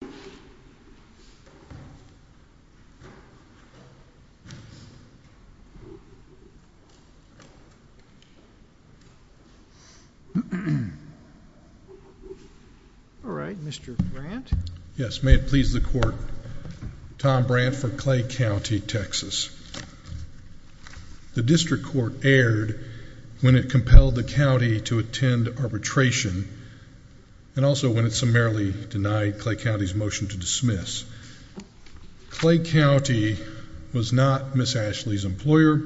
for Clay County, Texas. All right, Mr Grant. Yes, may it please the court. Tom Brandt for Clay County, Texas. The district court aired when it compelled the county to attend arbitration. And also when it summarily denied Clay County's motion to dismiss. Clay County was not Miss Ashley's employer,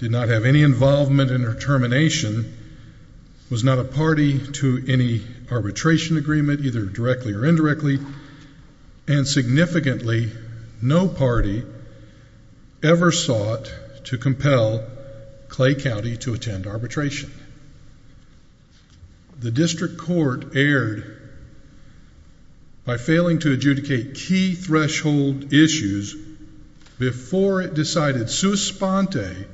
did not have any involvement in her termination, was not a party to any arbitration agreement, either directly or indirectly, and significantly no party ever sought to compel Clay County to attend arbitration. The district court aired by failing to adjudicate key threshold issues before it decided sua sponte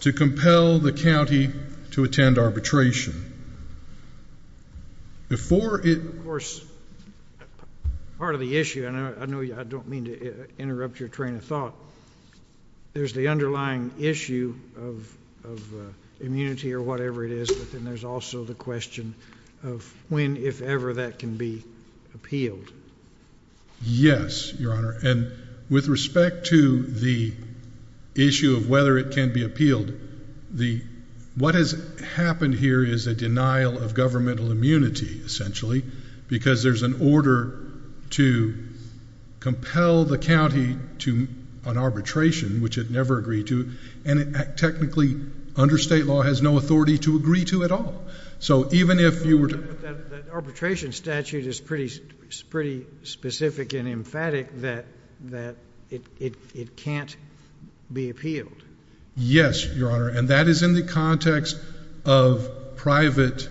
to compel the county to attend arbitration. Before it, of course, part of the issue, and I know I don't mean to interrupt your train of thought, there's the underlying issue of immunity or whatever it is, but then there's also the question of when, if ever, that can be appealed. Yes, Your Honor, and with respect to the issue of whether it can be appealed, what has happened here is a denial of governmental immunity, essentially, because there's an order to compel the county to an arbitration, which it never agreed to, and it technically, under state law, has no authority to agree to at all. But that arbitration statute is pretty specific and emphatic that it can't be appealed. Yes, Your Honor, and that is in the context of private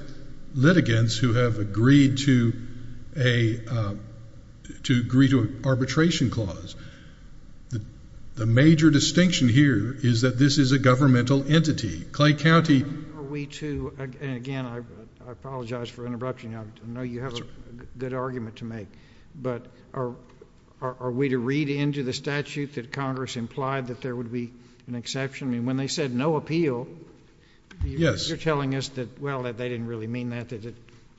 litigants who have agreed to an arbitration clause. The major distinction here is that this is a governmental entity. Are we to, and again, I apologize for interrupting, I know you have a good argument to make, but are we to read into the statute that Congress implied that there would be an exception? I mean, when they said no appeal, you're telling us that, well, that they didn't really mean that, that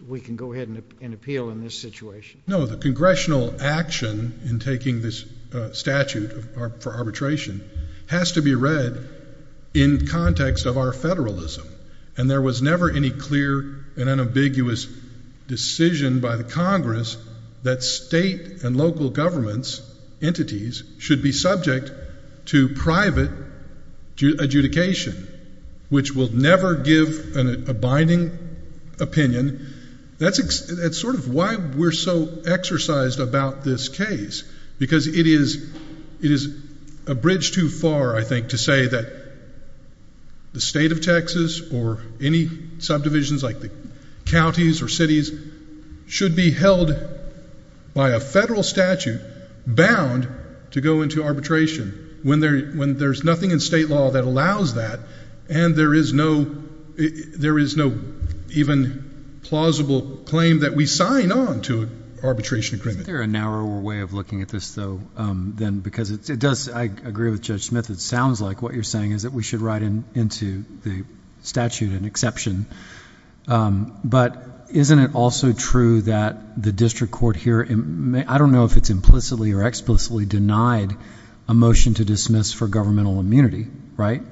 we can go ahead and appeal in this situation. No, the congressional action in taking this statute for arbitration has to be read in context of our federalism, and there was never any clear and unambiguous decision by the Congress that state and local governments, entities, should be subject to private adjudication, which will never give a binding opinion. That's sort of why we're so exercised about this case, because it is a bridge too far, I think, to say that the state of Texas or any subdivisions like the counties or cities should be held by a federal statute bound to go into arbitration when there's nothing in state law that allows that. And there is no even plausible claim that we sign on to arbitration agreement. Is there a narrower way of looking at this, though, than because it does, I agree with Judge Smith, it sounds like what you're saying is that we should write into the statute an exception. But isn't it also true that the district court here, I don't know if it's implicitly or explicitly denied a motion to dismiss for governmental immunity, right?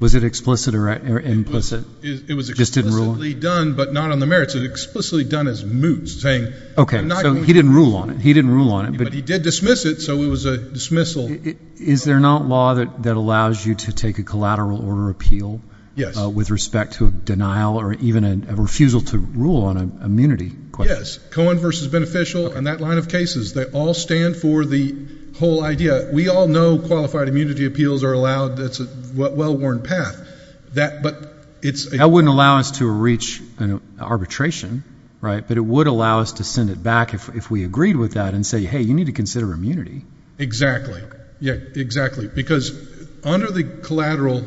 Was it explicit or implicit? It was explicitly done, but not on the merits. It was explicitly done as moots, saying- Okay, so he didn't rule on it. He didn't rule on it, but- He did dismiss it, so it was a dismissal. Is there not law that allows you to take a collateral order appeal- Yes. With respect to a denial or even a refusal to rule on an immunity question? Yes. Cohen v. Beneficial and that line of cases, they all stand for the whole idea. We all know qualified immunity appeals are allowed. That's a well-worn path. But it's- That wouldn't allow us to reach an arbitration, right? But it would allow us to send it back if we agreed with that and say, hey, you need to consider immunity. Exactly. Yeah, exactly. Because under the collateral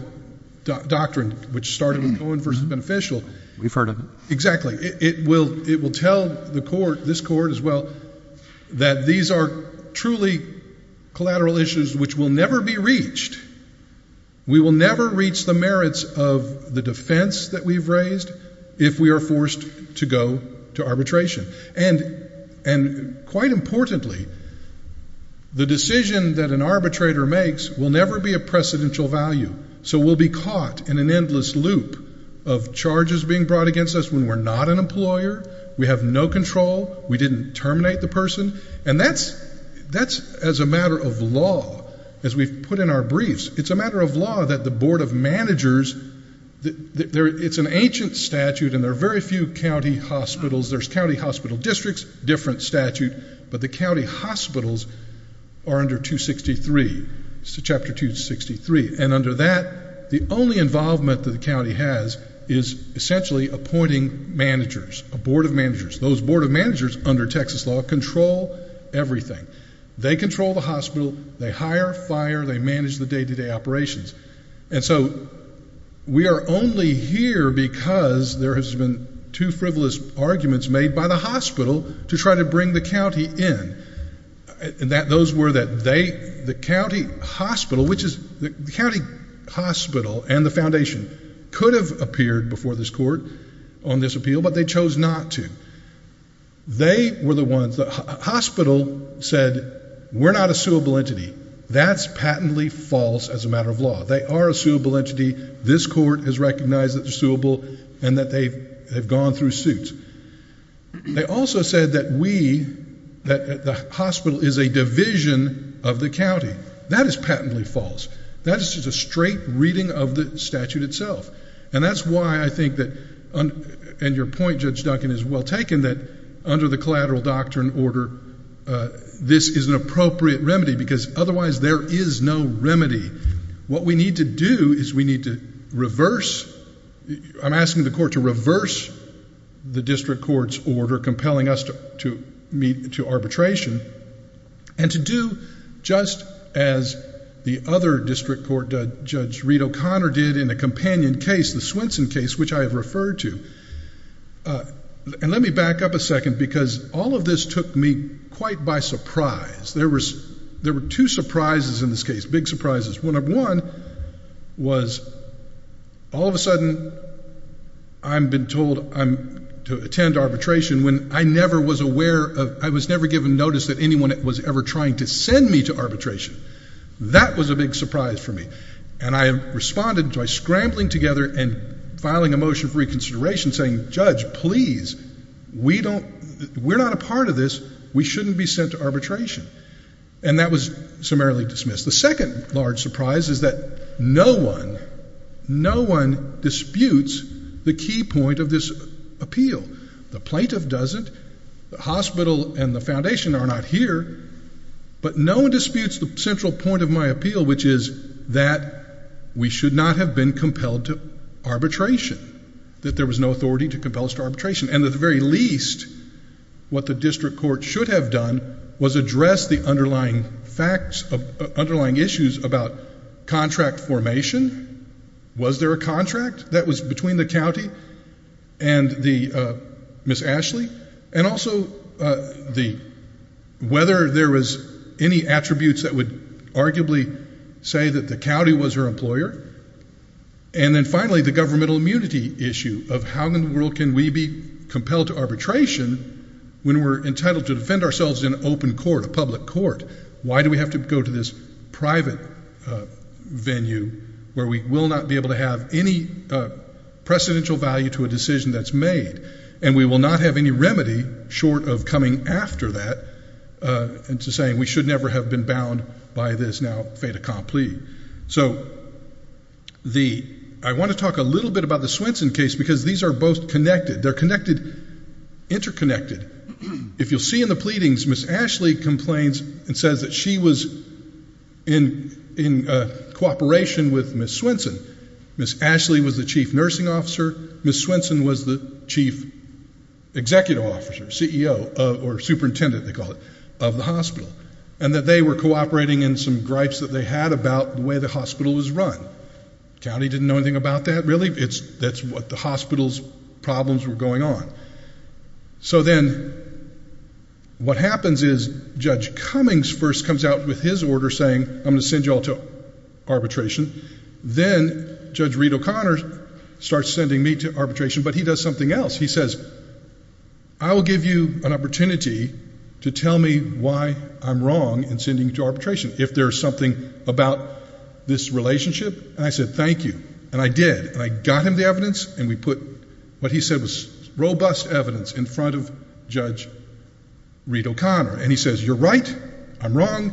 doctrine, which started with Cohen v. Beneficial- We've heard of it. Exactly. It will tell the court, this court as well, that these are truly collateral issues which will never be reached. We will never reach the merits of the defense that we've raised if we are forced to go to arbitration. And quite importantly, the decision that an arbitrator makes will never be a precedential value. So we'll be caught in an endless loop of charges being brought against us. We're not an employer. We have no control. We didn't terminate the person. And that's as a matter of law, as we've put in our briefs. It's a matter of law that the board of managers- It's an ancient statute and there are very few county hospitals. There's county hospital districts, different statute. But the county hospitals are under 263, Chapter 263. And under that, the only involvement that the county has is essentially appointing managers, a board of managers. Those board of managers, under Texas law, control everything. They control the hospital. They hire, fire. They manage the day-to-day operations. And so we are only here because there has been two frivolous arguments made by the hospital to try to bring the county in. Those were that the county hospital and the foundation could have appeared before this court on this appeal, but they chose not to. They were the ones- The hospital said, we're not a suable entity. That's patently false as a matter of law. They are a suable entity. This court has recognized that they're suable and that they've gone through suits. They also said that we, that the hospital is a division of the county. That is patently false. That is just a straight reading of the statute itself. And that's why I think that, and your point, Judge Duncan, is well taken, that under the collateral doctrine order, this is an appropriate remedy because otherwise there is no remedy. What we need to do is we need to reverse, I'm asking the court to reverse the district court's order compelling us to meet to arbitration and to do just as the other district court Judge Reed O'Connor did in a companion case, the Swenson case, which I have referred to. And let me back up a second because all of this took me quite by surprise. There were two surprises in this case, big surprises. One was all of a sudden I've been told I'm to attend arbitration when I never was aware of, I was never given notice that anyone was ever trying to send me to arbitration. That was a big surprise for me. And I responded by scrambling together and filing a motion for reconsideration saying, Judge, please, we don't, we're not a part of this. We shouldn't be sent to arbitration. And that was summarily dismissed. The second large surprise is that no one, no one disputes the key point of this appeal. The plaintiff doesn't, the hospital and the foundation are not here, but no one disputes the central point of my appeal, which is that we should not have been compelled to arbitration, that there was no authority to compel us to arbitration. And at the very least, what the district court should have done was address the underlying facts, underlying issues about contract formation. Was there a contract that was between the county and the Ms. Ashley? And also the, whether there was any attributes that would arguably say that the county was her employer. And then finally, the governmental immunity issue of how in the world can we be compelled to arbitration when we're entitled to defend ourselves in open court, a public court? Why do we have to go to this private venue where we will not be able to have any precedential value to a decision that's made? And we will not have any remedy short of coming after that into saying we should never have been bound by this now fait accompli. So the, I want to talk a little bit about the Swenson case because these are both connected. They're connected, interconnected. If you'll see in the pleadings, Ms. Ashley complains and says that she was in cooperation with Ms. Swenson. Ms. Ashley was the chief nursing officer. Ms. Swenson was the chief executive officer, CEO, or superintendent, they call it, of the hospital. And that they were cooperating in some gripes that they had about the way the hospital was run. County didn't know anything about that, really. It's, that's what the hospital's problems were going on. So then what happens is Judge Cummings first comes out with his order saying, I'm going to send you all to arbitration. Then Judge Reed O'Connor starts sending me to arbitration. But he does something else. He says, I will give you an opportunity to tell me why I'm wrong in sending you to arbitration if there's something about this relationship. And I said, thank you. And I did. And I got him the evidence. And we put what he said was robust evidence in front of Judge Reed O'Connor. And he says, you're right. I'm wrong.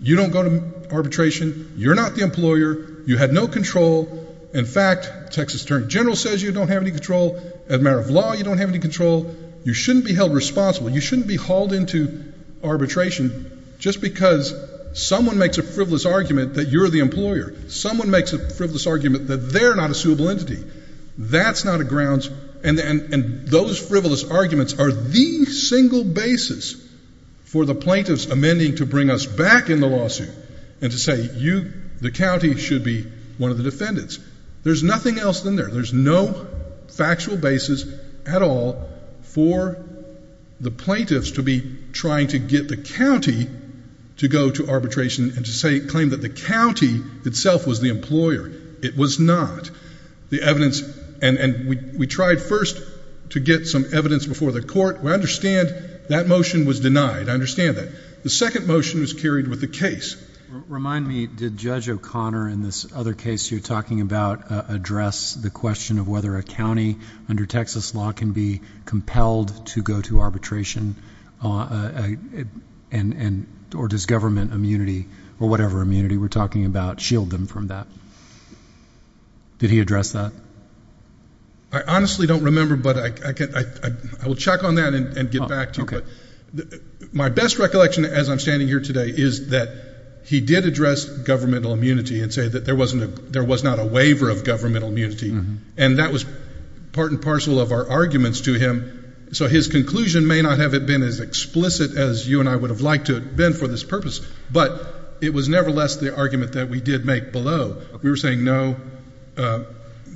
You don't go to arbitration. You're not the employer. You had no control. In fact, Texas Attorney General says you don't have any control. As a matter of law, you don't have any control. You shouldn't be held responsible. You shouldn't be hauled into arbitration just because someone makes a frivolous argument that you're the employer. Someone makes a frivolous argument that they're not a suable entity. That's not a grounds. And those frivolous arguments are the single basis for the plaintiffs amending to bring us back in the lawsuit and to say the county should be one of the defendants. There's nothing else in there. There's no factual basis at all for the plaintiffs to be trying to get the county to go to arbitration and to claim that the county itself was the employer. It was not. The evidence and we tried first to get some evidence before the court. We understand that motion was denied. I understand that. The second motion was carried with the case. Remind me, did Judge O'Connor in this other case you're talking about address the question of whether a county under Texas law can be compelled to go to arbitration and or does government immunity or whatever immunity we're talking about shield them from that? Did he address that? I honestly don't remember, but I will check on that and get back to you. My best recollection as I'm standing here today is that he did address governmental immunity and say that there was not a waiver of governmental immunity and that was part and parcel of our arguments to him. So his conclusion may not have been as explicit as you and I would have liked to have been for this purpose. But it was nevertheless the argument that we did make below. We were saying, no,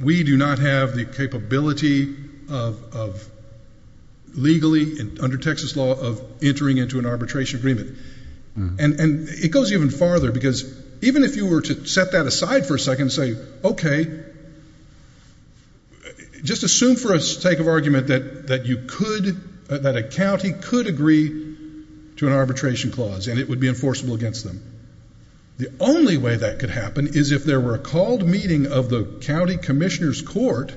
we do not have the capability of legally under Texas law of entering into an arbitration agreement. And it goes even farther because even if you were to set that aside for a second and say, okay, just assume for a sake of argument that you could, that a county could agree to an arbitration clause and it would be enforceable against them. The only way that could happen is if there were a called meeting of the county commissioner's court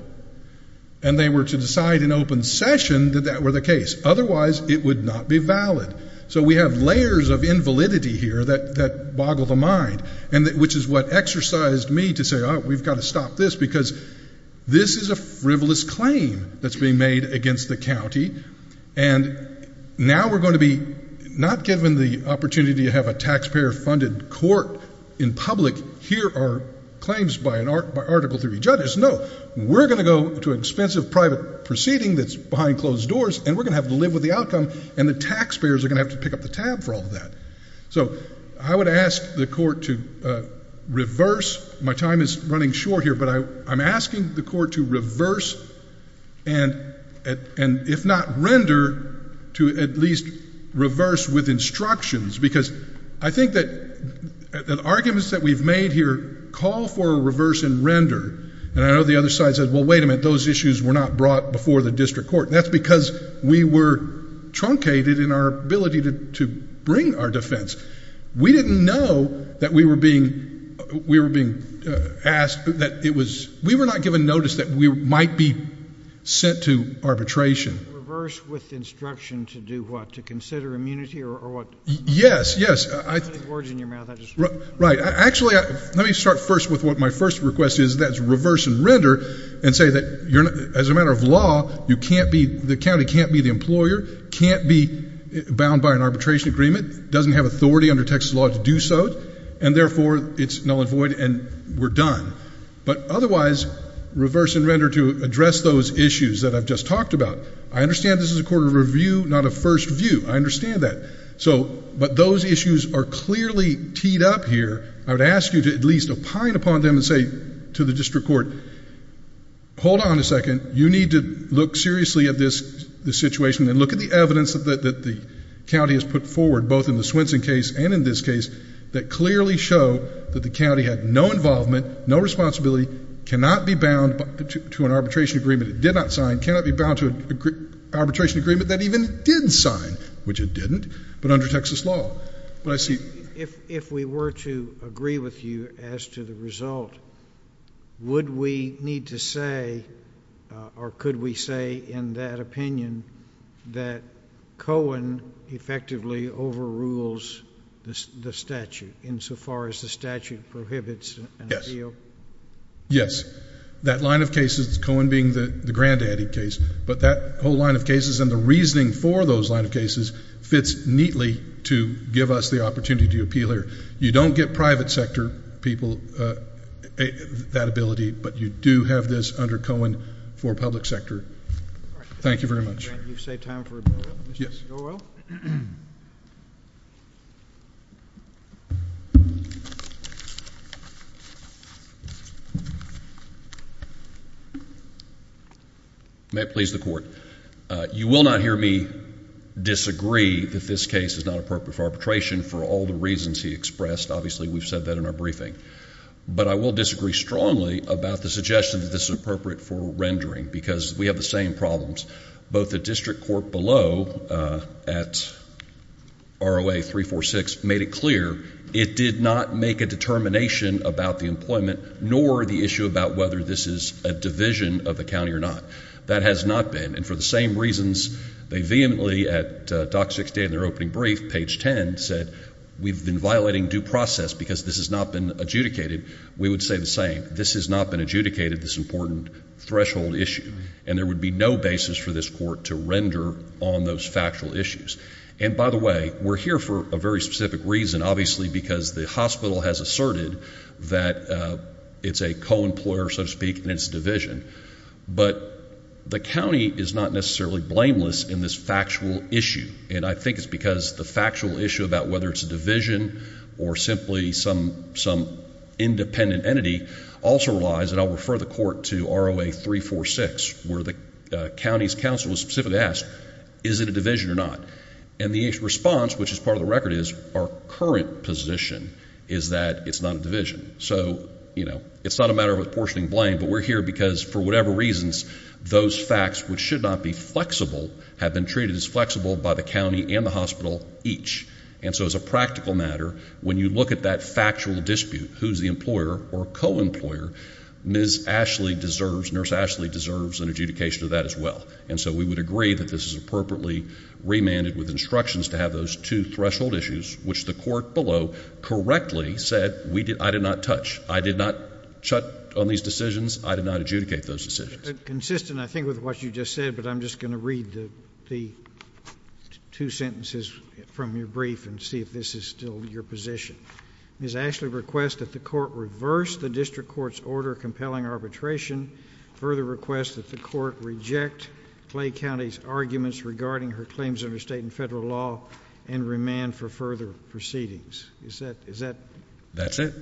and they were to decide in open session that that were the case. Otherwise it would not be valid. So we have layers of invalidity here that boggle the mind, which is what exercised me to say, oh, we've got to stop this because this is a frivolous claim that's being made against the county. And now we're going to be not given the opportunity to have a taxpayer funded court in public hear our claims by article three judges. No, we're going to go to expensive private proceeding that's behind closed doors and we're going to have to live with the outcome and the taxpayers are going to have to pick up the tab for all of that. So I would ask the court to reverse, my time is running short here, but I'm asking the court to reverse and if not render, to at least reverse with instructions because I think that the arguments that we've made here call for a reverse and render. And I know the other side said, well, wait a minute, those issues were not brought before the district court. That's because we were truncated in our ability to bring our defense. We didn't know that we were being asked, that it was, we were not given notice that we might be sent to arbitration. Reverse with instruction to do what? To consider immunity or what? Yes, yes. Actually, let me start first with what my first request is, that's reverse and render and say that as a matter of law, you can't be, the county can't be the employer, can't be bound by an arbitration agreement, doesn't have authority under Texas law to do so and therefore it's null and void and we're done. But otherwise, reverse and render to address those issues that I've just talked about. I understand this is a court of review, not a first view. I understand that. So, but those issues are clearly teed up here. I would ask you to at least opine upon them and say to the district court, hold on a second, you need to look seriously at this situation and look at the evidence that the county has put forward, both in the Swenson case and in this case, that clearly show that the county had no involvement, no responsibility, cannot be bound to an arbitration agreement, it did not sign, cannot be bound to an arbitration agreement that even did sign, which it didn't, but under Texas law. But I see. If we were to agree with you as to the result, would we need to say, or could we say in that opinion that Cohen effectively overrules the statute insofar as the statute prohibits an appeal? Yes. That line of cases, Cohen being the granddaddy case, but that whole line of cases and the reasoning for those line of cases fits neatly to give us the opportunity to appeal here. You don't get private sector people that ability, but you do have this under Cohen for public sector. Thank you very much. Grant, you've saved time for a burial. Yes. May it please the court. You will not hear me disagree that this case is not appropriate for arbitration for all the reasons he expressed. Obviously, we've said that in our briefing, but I will disagree strongly about the suggestion that this is appropriate for rendering because we have the same problems. Both the district court below at ROA 346 made it clear it did not make a determination about the employment nor the issue about whether this is a division of the county or not. That has not been. For the same reasons, they vehemently at DOC 60 in their opening brief, page 10, said we've been violating due process because this has not been adjudicated. We would say the same. This has not been adjudicated, this important threshold issue, and there would be no basis for this court to render on those factual issues. And by the way, we're here for a very specific reason, obviously, because the hospital has asserted that it's a co-employer, so to speak, and it's a division. But the county is not necessarily blameless in this factual issue, and I think it's because the factual issue about whether it's a division or simply some independent entity also relies, and I'll refer the court to ROA 346, where the county's counsel was specifically asked, is it a division or not? And the response, which is part of the record, is our current position is that it's not a division. So, you know, it's not a matter of apportioning blame, but we're here because, for whatever reasons, those facts, which should not be flexible, have been treated as flexible by the county and the hospital each. And so as a practical matter, when you look at that factual dispute, who's the employer or co-employer, Ms. Ashley deserves, Nurse Ashley deserves an adjudication of that as well. And so we would agree that this is appropriately remanded with instructions to have those two threshold issues, which the court below correctly said, I did not touch. I did not chut on these decisions. I did not adjudicate those decisions. JUSTICE KENNEDY Consistent, I think, with what you just said, but I'm just going to read the two sentences from your brief and see if this is still your position. Ms. Ashley requests that the court reverse the district court's order of compelling arbitration, further requests that the court reject Clay County's arguments regarding her claims under state and federal law and remand for further proceedings. Is that, is that? That's it.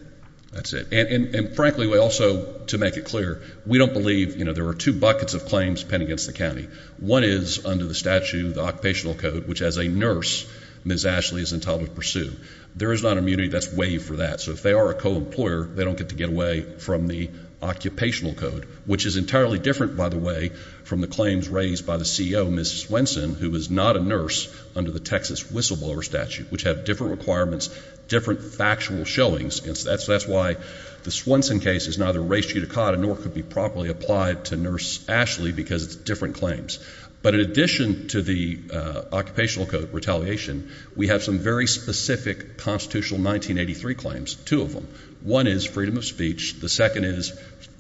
That's it. And frankly, we also, to make it clear, we don't believe, you know, there were two buckets of claims penned against the county. One is under the statute, the occupational code, which as a nurse, Ms. Ashley is entitled to pursue. There is not immunity that's waived for that. So if they are a co-employer, they don't get to get away from the occupational code, which is entirely different, by the way, from the claims raised by the CEO, Ms. Swenson, who is not a nurse under the Texas whistleblower statute, which have different requirements, different factual showings. And that's, that's why the Swenson case is neither ratio to caught and nor could be properly applied to nurse Ashley because it's different claims. But in addition to the occupational code retaliation, we have some very specific constitutional 1983 claims, two of them. One is freedom of speech. The second is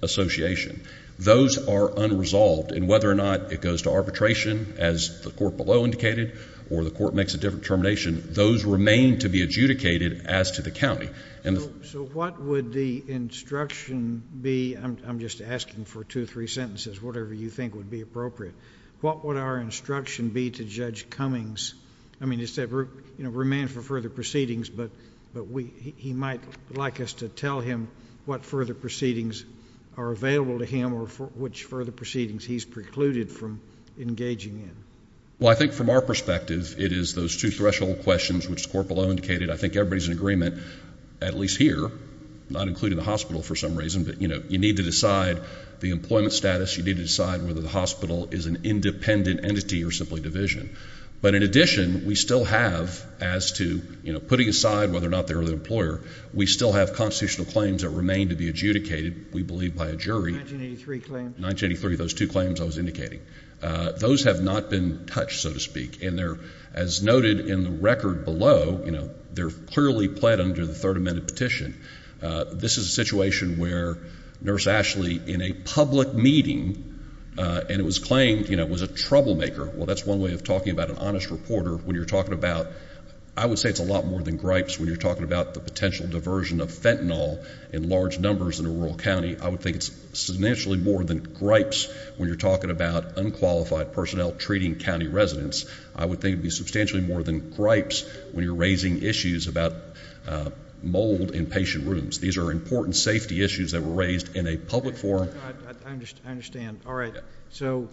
association. Those are unresolved. And whether or not it goes to arbitration, as the court below indicated, or the court makes a different termination, those remain to be adjudicated as to the county. And so what would the instruction be? I'm just asking for two or three sentences, whatever you think would be appropriate. What would our instruction be to Judge Cummings? I mean, it's a remand for further proceedings, but he might like us to tell him what further proceedings are available to him or which further proceedings he's precluded from engaging in. Well, I think from our perspective, it is those two threshold questions which the court below indicated. I think everybody's in agreement, at least here, not including the hospital for some reason, but you need to decide the employment status. You need to decide whether the hospital is an independent entity or simply division. But in addition, we still have, as to putting aside whether or not they're the employer, we still have constitutional claims that remain to be adjudicated, we believe by a jury. 1983 claims. 1983, those two claims I was indicating. Those have not been touched, so to speak. And they're, as noted in the record below, you know, they're clearly pled under the Third Amendment petition. This is a situation where Nurse Ashley, in a public meeting, and it was claimed, you know, was a troublemaker. Well, that's one way of talking about an honest reporter when you're talking about, I would say it's a lot more than gripes when you're talking about the potential diversion of fentanyl in large numbers in a rural county. I would think it's substantially more than gripes when you're talking about unqualified personnel treating county residents. I would think it'd be substantially more than gripes when you're raising issues about mold in patient rooms. These are important safety issues that were raised in a public forum. I understand. All right. So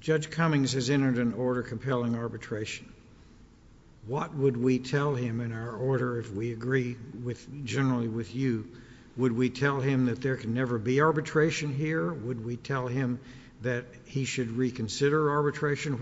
Judge Cummings has entered an order compelling arbitration. What would we tell him in our order if we agree with, generally with you? Would we tell him that there can never be arbitration here? Would we tell him that he should reconsider arbitration?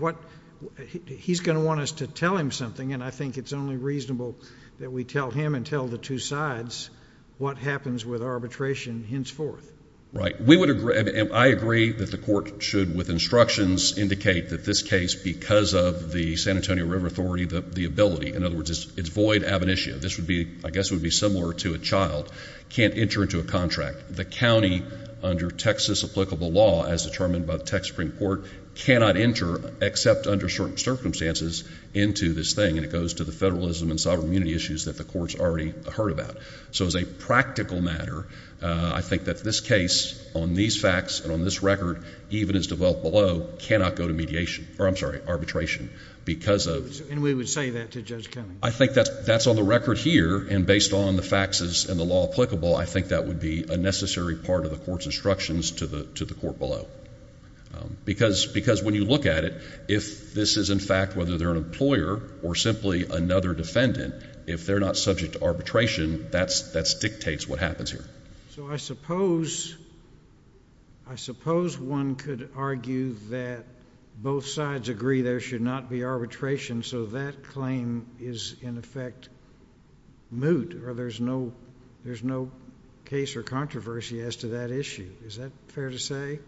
He's going to want us to tell him something, and I think it's only reasonable that we tell him and tell the two sides what happens with arbitration henceforth. Right. We would agree, and I agree, that the court should, with instructions, indicate that this case, because of the San Antonio River Authority, the ability, in other words, it's void ab initio. This would be, I guess, would be similar to a child can't enter into a contract. The county, under Texas-applicable law, as determined by the Texas Supreme Court, cannot enter, except under certain circumstances, into this thing, and it goes to the federalism and sovereign immunity issues that the court's already heard about. So as a practical matter, I think that this case, on these facts and on this record, even as developed below, cannot go to mediation, or I'm sorry, arbitration, because of... And we would say that to Judge Cummings? I think that's on the record here, and based on the facts and the law applicable, I think that would be a necessary part of the court's instructions to the court below. Because when you look at it, if this is, in fact, whether they're an employer or simply another defendant, if they're not subject to arbitration, that dictates what happens here. So I suppose one could argue that both sides agree there should not be arbitration, so that claim is, in effect, moot, or there's no case or controversy as to that issue. Is that fair to say?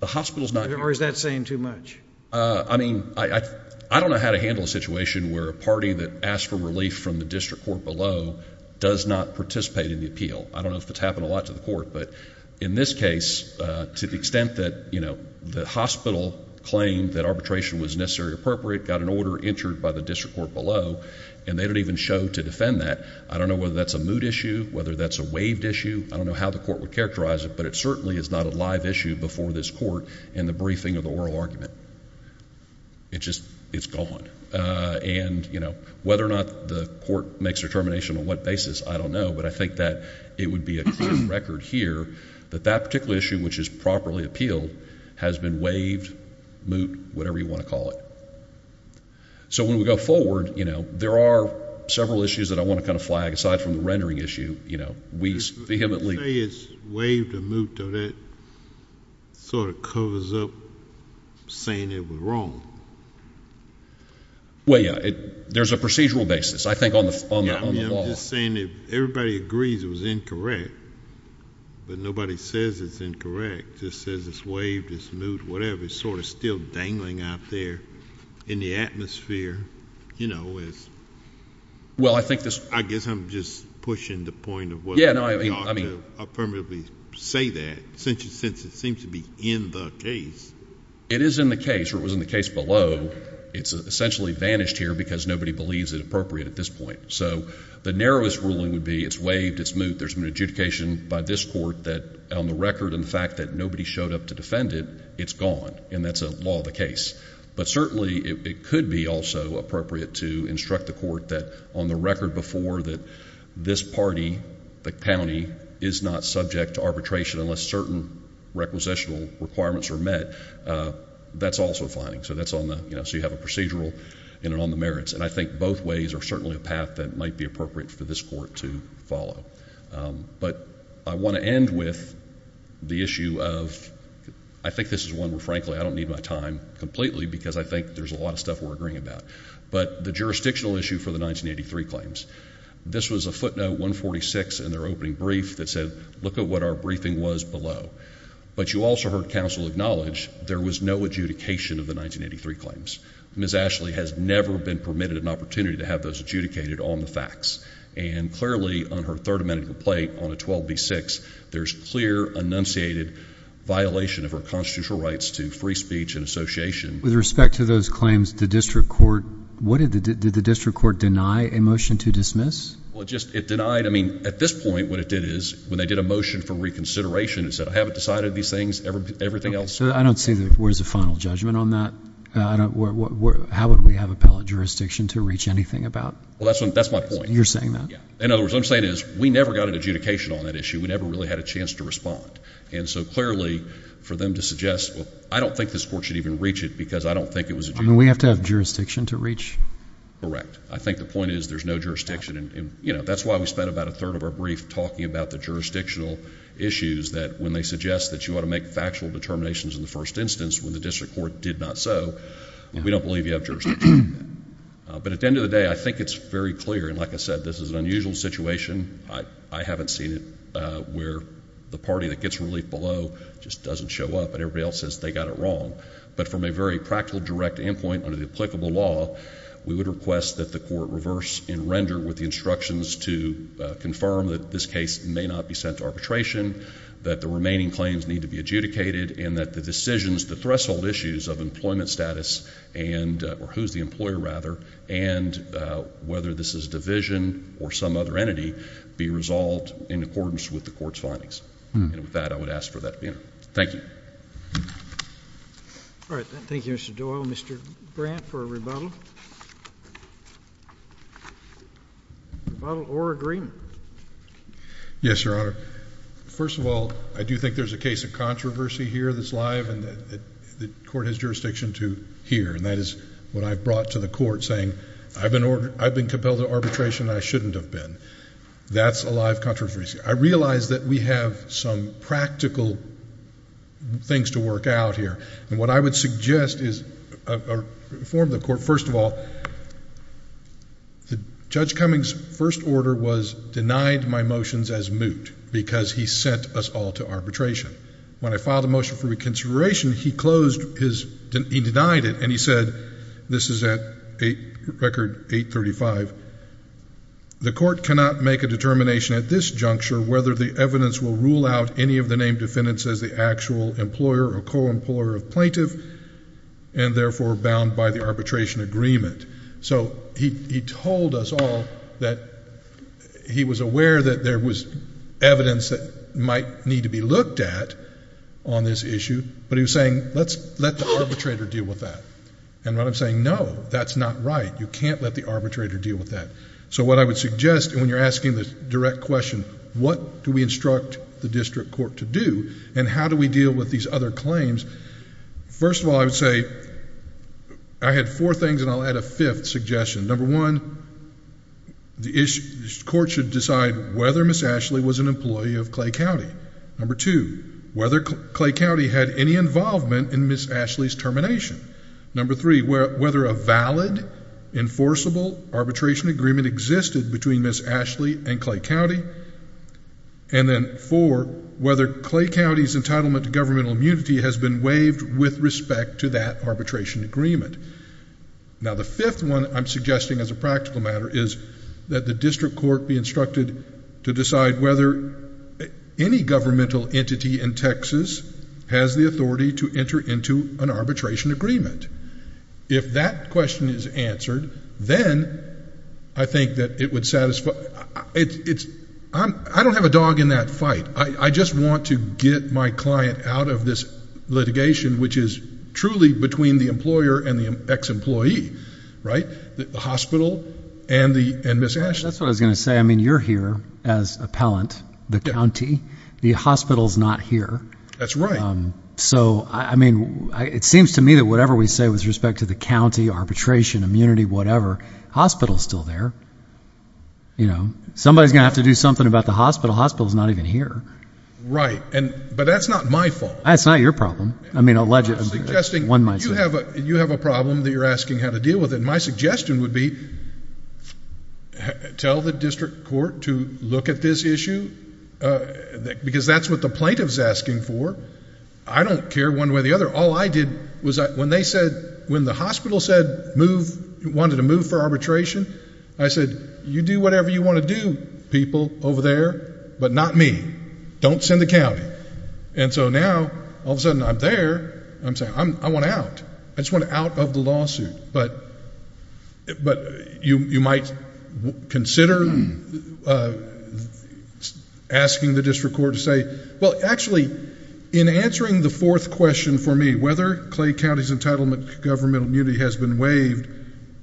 The hospital's not... Or is that saying too much? I mean, I don't know how to handle a situation where a party that asks for relief from the district court below does not participate in the appeal. I don't know if it's happened a lot to the court, but in this case, to the extent that, you know, the hospital claimed that arbitration was necessarily appropriate, got an order entered by the district court below, and they don't even show to defend that, I don't know whether that's a moot issue, whether that's a waived issue. I don't know how the court would characterize it, but it certainly is not a live issue before this court in the briefing of the oral argument. It just, it's gone. And, you know, whether or not the court makes a determination on what basis, I don't know, but I think that it would be a clear record here that that particular issue, which is properly appealed, has been waived, moot, whatever you want to call it. So when we go forward, you know, there are several issues that I want to kind of flag. Aside from the rendering issue, you know, we vehemently- You say it's waived or moot, though that sort of covers up saying it was wrong. Well, yeah, there's a procedural basis, I think, on the law. Yeah, I mean, I'm just saying that everybody agrees it was incorrect, but nobody says it's incorrect. Just says it's waived, it's moot, whatever. It's sort of still dangling out there in the atmosphere. You know, it's- Well, I think this- I guess I'm just pushing the point of whether- Yeah, no, I mean- You ought to affirmatively say that, since it seems to be in the case. It is in the case, or it was in the case below. It's essentially vanished here because nobody believes it appropriate at this point. So the narrowest ruling would be it's waived, it's moot. There's an adjudication by this court that, on the record and the fact that nobody showed up to defend it, it's gone, and that's a law of the case. But certainly, it could be also appropriate to instruct the court that, on the record before, that this party, the county, is not subject to arbitration unless certain requisitional requirements are met. That's also a finding. So that's on the- So you have a procedural in and on the merits. And I think both ways are certainly a path that might be appropriate for this court to follow. But I want to end with the issue of- I think this is one where, frankly, I don't need my time completely because I think there's a lot of stuff we're agreeing about. But the jurisdictional issue for the 1983 claims, this was a footnote 146 in their opening brief that said, look at what our briefing was below. But you also heard counsel acknowledge there was no adjudication of the 1983 claims. Ms. Ashley has never been permitted an opportunity to have those adjudicated on the facts. And clearly, on her Third Amendment complaint on a 12b-6, there's clear enunciated violation of her constitutional rights to free speech and association. With respect to those claims, did the district court deny a motion to dismiss? Well, it denied. I mean, at this point, what it did is, when they did a motion for reconsideration, it said, I haven't decided these things. I don't see that there's a final judgment on that. How would we have appellate jurisdiction to reach anything about? Well, that's my point. You're saying that? In other words, what I'm saying is, we never got an adjudication on that issue. We never really had a chance to respond. And so clearly, for them to suggest, I don't think this court should even reach it because I don't think it was adjudicated. I mean, we have to have jurisdiction to reach? Correct. I think the point is, there's no jurisdiction. And that's why we spent about a third of our brief talking about the jurisdictional issues, that when they suggest that you ought to make factual determinations in the first instance, when the district court did not so, we don't believe you have jurisdiction. But at the end of the day, I think it's very clear. And like I said, this is an unusual situation. I haven't seen it where the party that gets relief below just doesn't show up. And everybody else says they got it wrong. But from a very practical direct endpoint under the applicable law, we would request that the court reverse and render with the instructions to confirm that this case may not be sent to arbitration, that the remaining claims need to be adjudicated, and that the decisions, the threshold issues of employment status and, or who's the employer rather, and whether this is division or some other entity, be resolved in accordance with the court's findings. And with that, I would ask for that to be entered. Thank you. All right. Thank you, Mr. Doyle. Mr. Brandt for a rebuttal. Rebuttal or agreement. Yes, Your Honor. First of all, I do think there's a case of controversy here that's live and that the court has jurisdiction to hear. And that is what I've brought to the court saying, I've been compelled to arbitration and I shouldn't have been. That's a live controversy. I realize that we have some practical things to work out here. And what I would suggest is, or inform the court, first of all, Judge Cummings' first order was denied my motions as moot because he sent us all to arbitration. When I filed a motion for reconsideration, he closed his, he denied it and he said, this is at record 835, the court cannot make a determination at this juncture whether the evidence will rule out any of the named defendants as the actual employer or co-employer of plaintiff and therefore bound by the arbitration agreement. So he told us all that he was aware that there was evidence that might need to be looked at on this issue, but he was saying, let's let the arbitrator deal with that. And what I'm saying, no, that's not right. You can't let the arbitrator deal with that. So what I would suggest, and when you're asking the direct question, what do we instruct the district court to do and how do we deal with these other claims? First of all, I would say I had four things and I'll add a fifth suggestion. Number one, the court should decide whether Ms. Ashley was an employee of Clay County. Number two, whether Clay County had any involvement in Ms. Ashley's termination. Number three, whether a valid enforceable arbitration agreement existed between Ms. Ashley and Clay County. And then four, whether Clay County's entitlement to governmental immunity has been waived with respect to that arbitration agreement. Now, the fifth one I'm suggesting as a practical matter is that the district court be instructed to decide whether any governmental entity in Texas has the authority to enter into an arbitration agreement. If that question is answered, then I think that it would satisfy, it's, I don't have a dog in that fight. I just want to get my client out of this litigation, which is truly between the employer and the ex-employee, right, the hospital and Ms. Ashley. Well, that's what I was gonna say. I mean, you're here as appellant, the county, the hospital's not here. That's right. So, I mean, it seems to me that whatever we say with respect to the county, arbitration, immunity, whatever, hospital's still there. You know, somebody's gonna have to do something about the hospital. Hospital's not even here. Right, but that's not my fault. That's not your problem. I mean, allegedly, one might say. You have a problem that you're asking how to deal with it. My suggestion would be tell the district court to look at this issue because that's what the plaintiff's asking for. I don't care one way or the other. All I did was when they said, when the hospital said move, wanted to move for arbitration, I said, you do whatever you want to do, people over there, but not me. Don't send the county. And so now, all of a sudden, I'm there. I'm saying, I want out. I just want out of the lawsuit. But you might consider asking the district court to say, well, actually, in answering the fourth question for me, whether Clay County's entitlement to governmental immunity has been waived,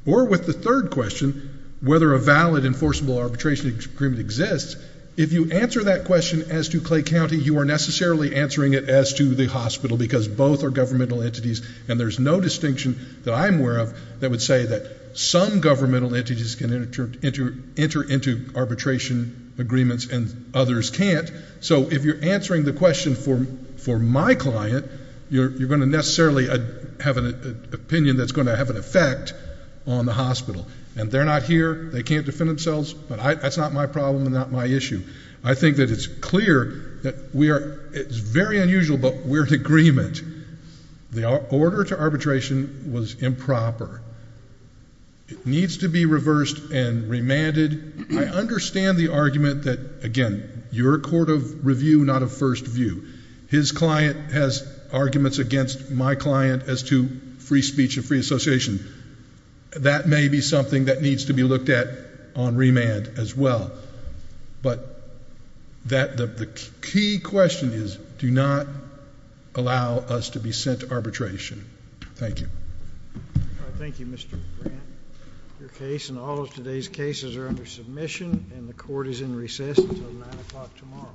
or with the third question, whether a valid enforceable arbitration agreement exists. If you answer that question as to Clay County, you are necessarily answering it as to the hospital because both are governmental entities and there's no distinction that I'm aware of that would say that some governmental entities can enter into arbitration agreements and others can't. So if you're answering the question for my client, you're going to necessarily have an opinion that's going to have an effect on the hospital. And they're not here. They can't defend themselves. But that's not my problem and not my issue. I think that it's clear that it's very unusual, but we're in agreement. The order to arbitration was improper. It needs to be reversed and remanded. I understand the argument that, again, you're a court of review, not a first view. His client has arguments against my client as to free speech and free association. That may be something that needs to be looked at on remand as well. But the key question is, do not allow us to be sent to arbitration. Thank you. Thank you, Mr. Grant. Your case and all of today's cases are under submission and the court is in recess until 9 o'clock tomorrow.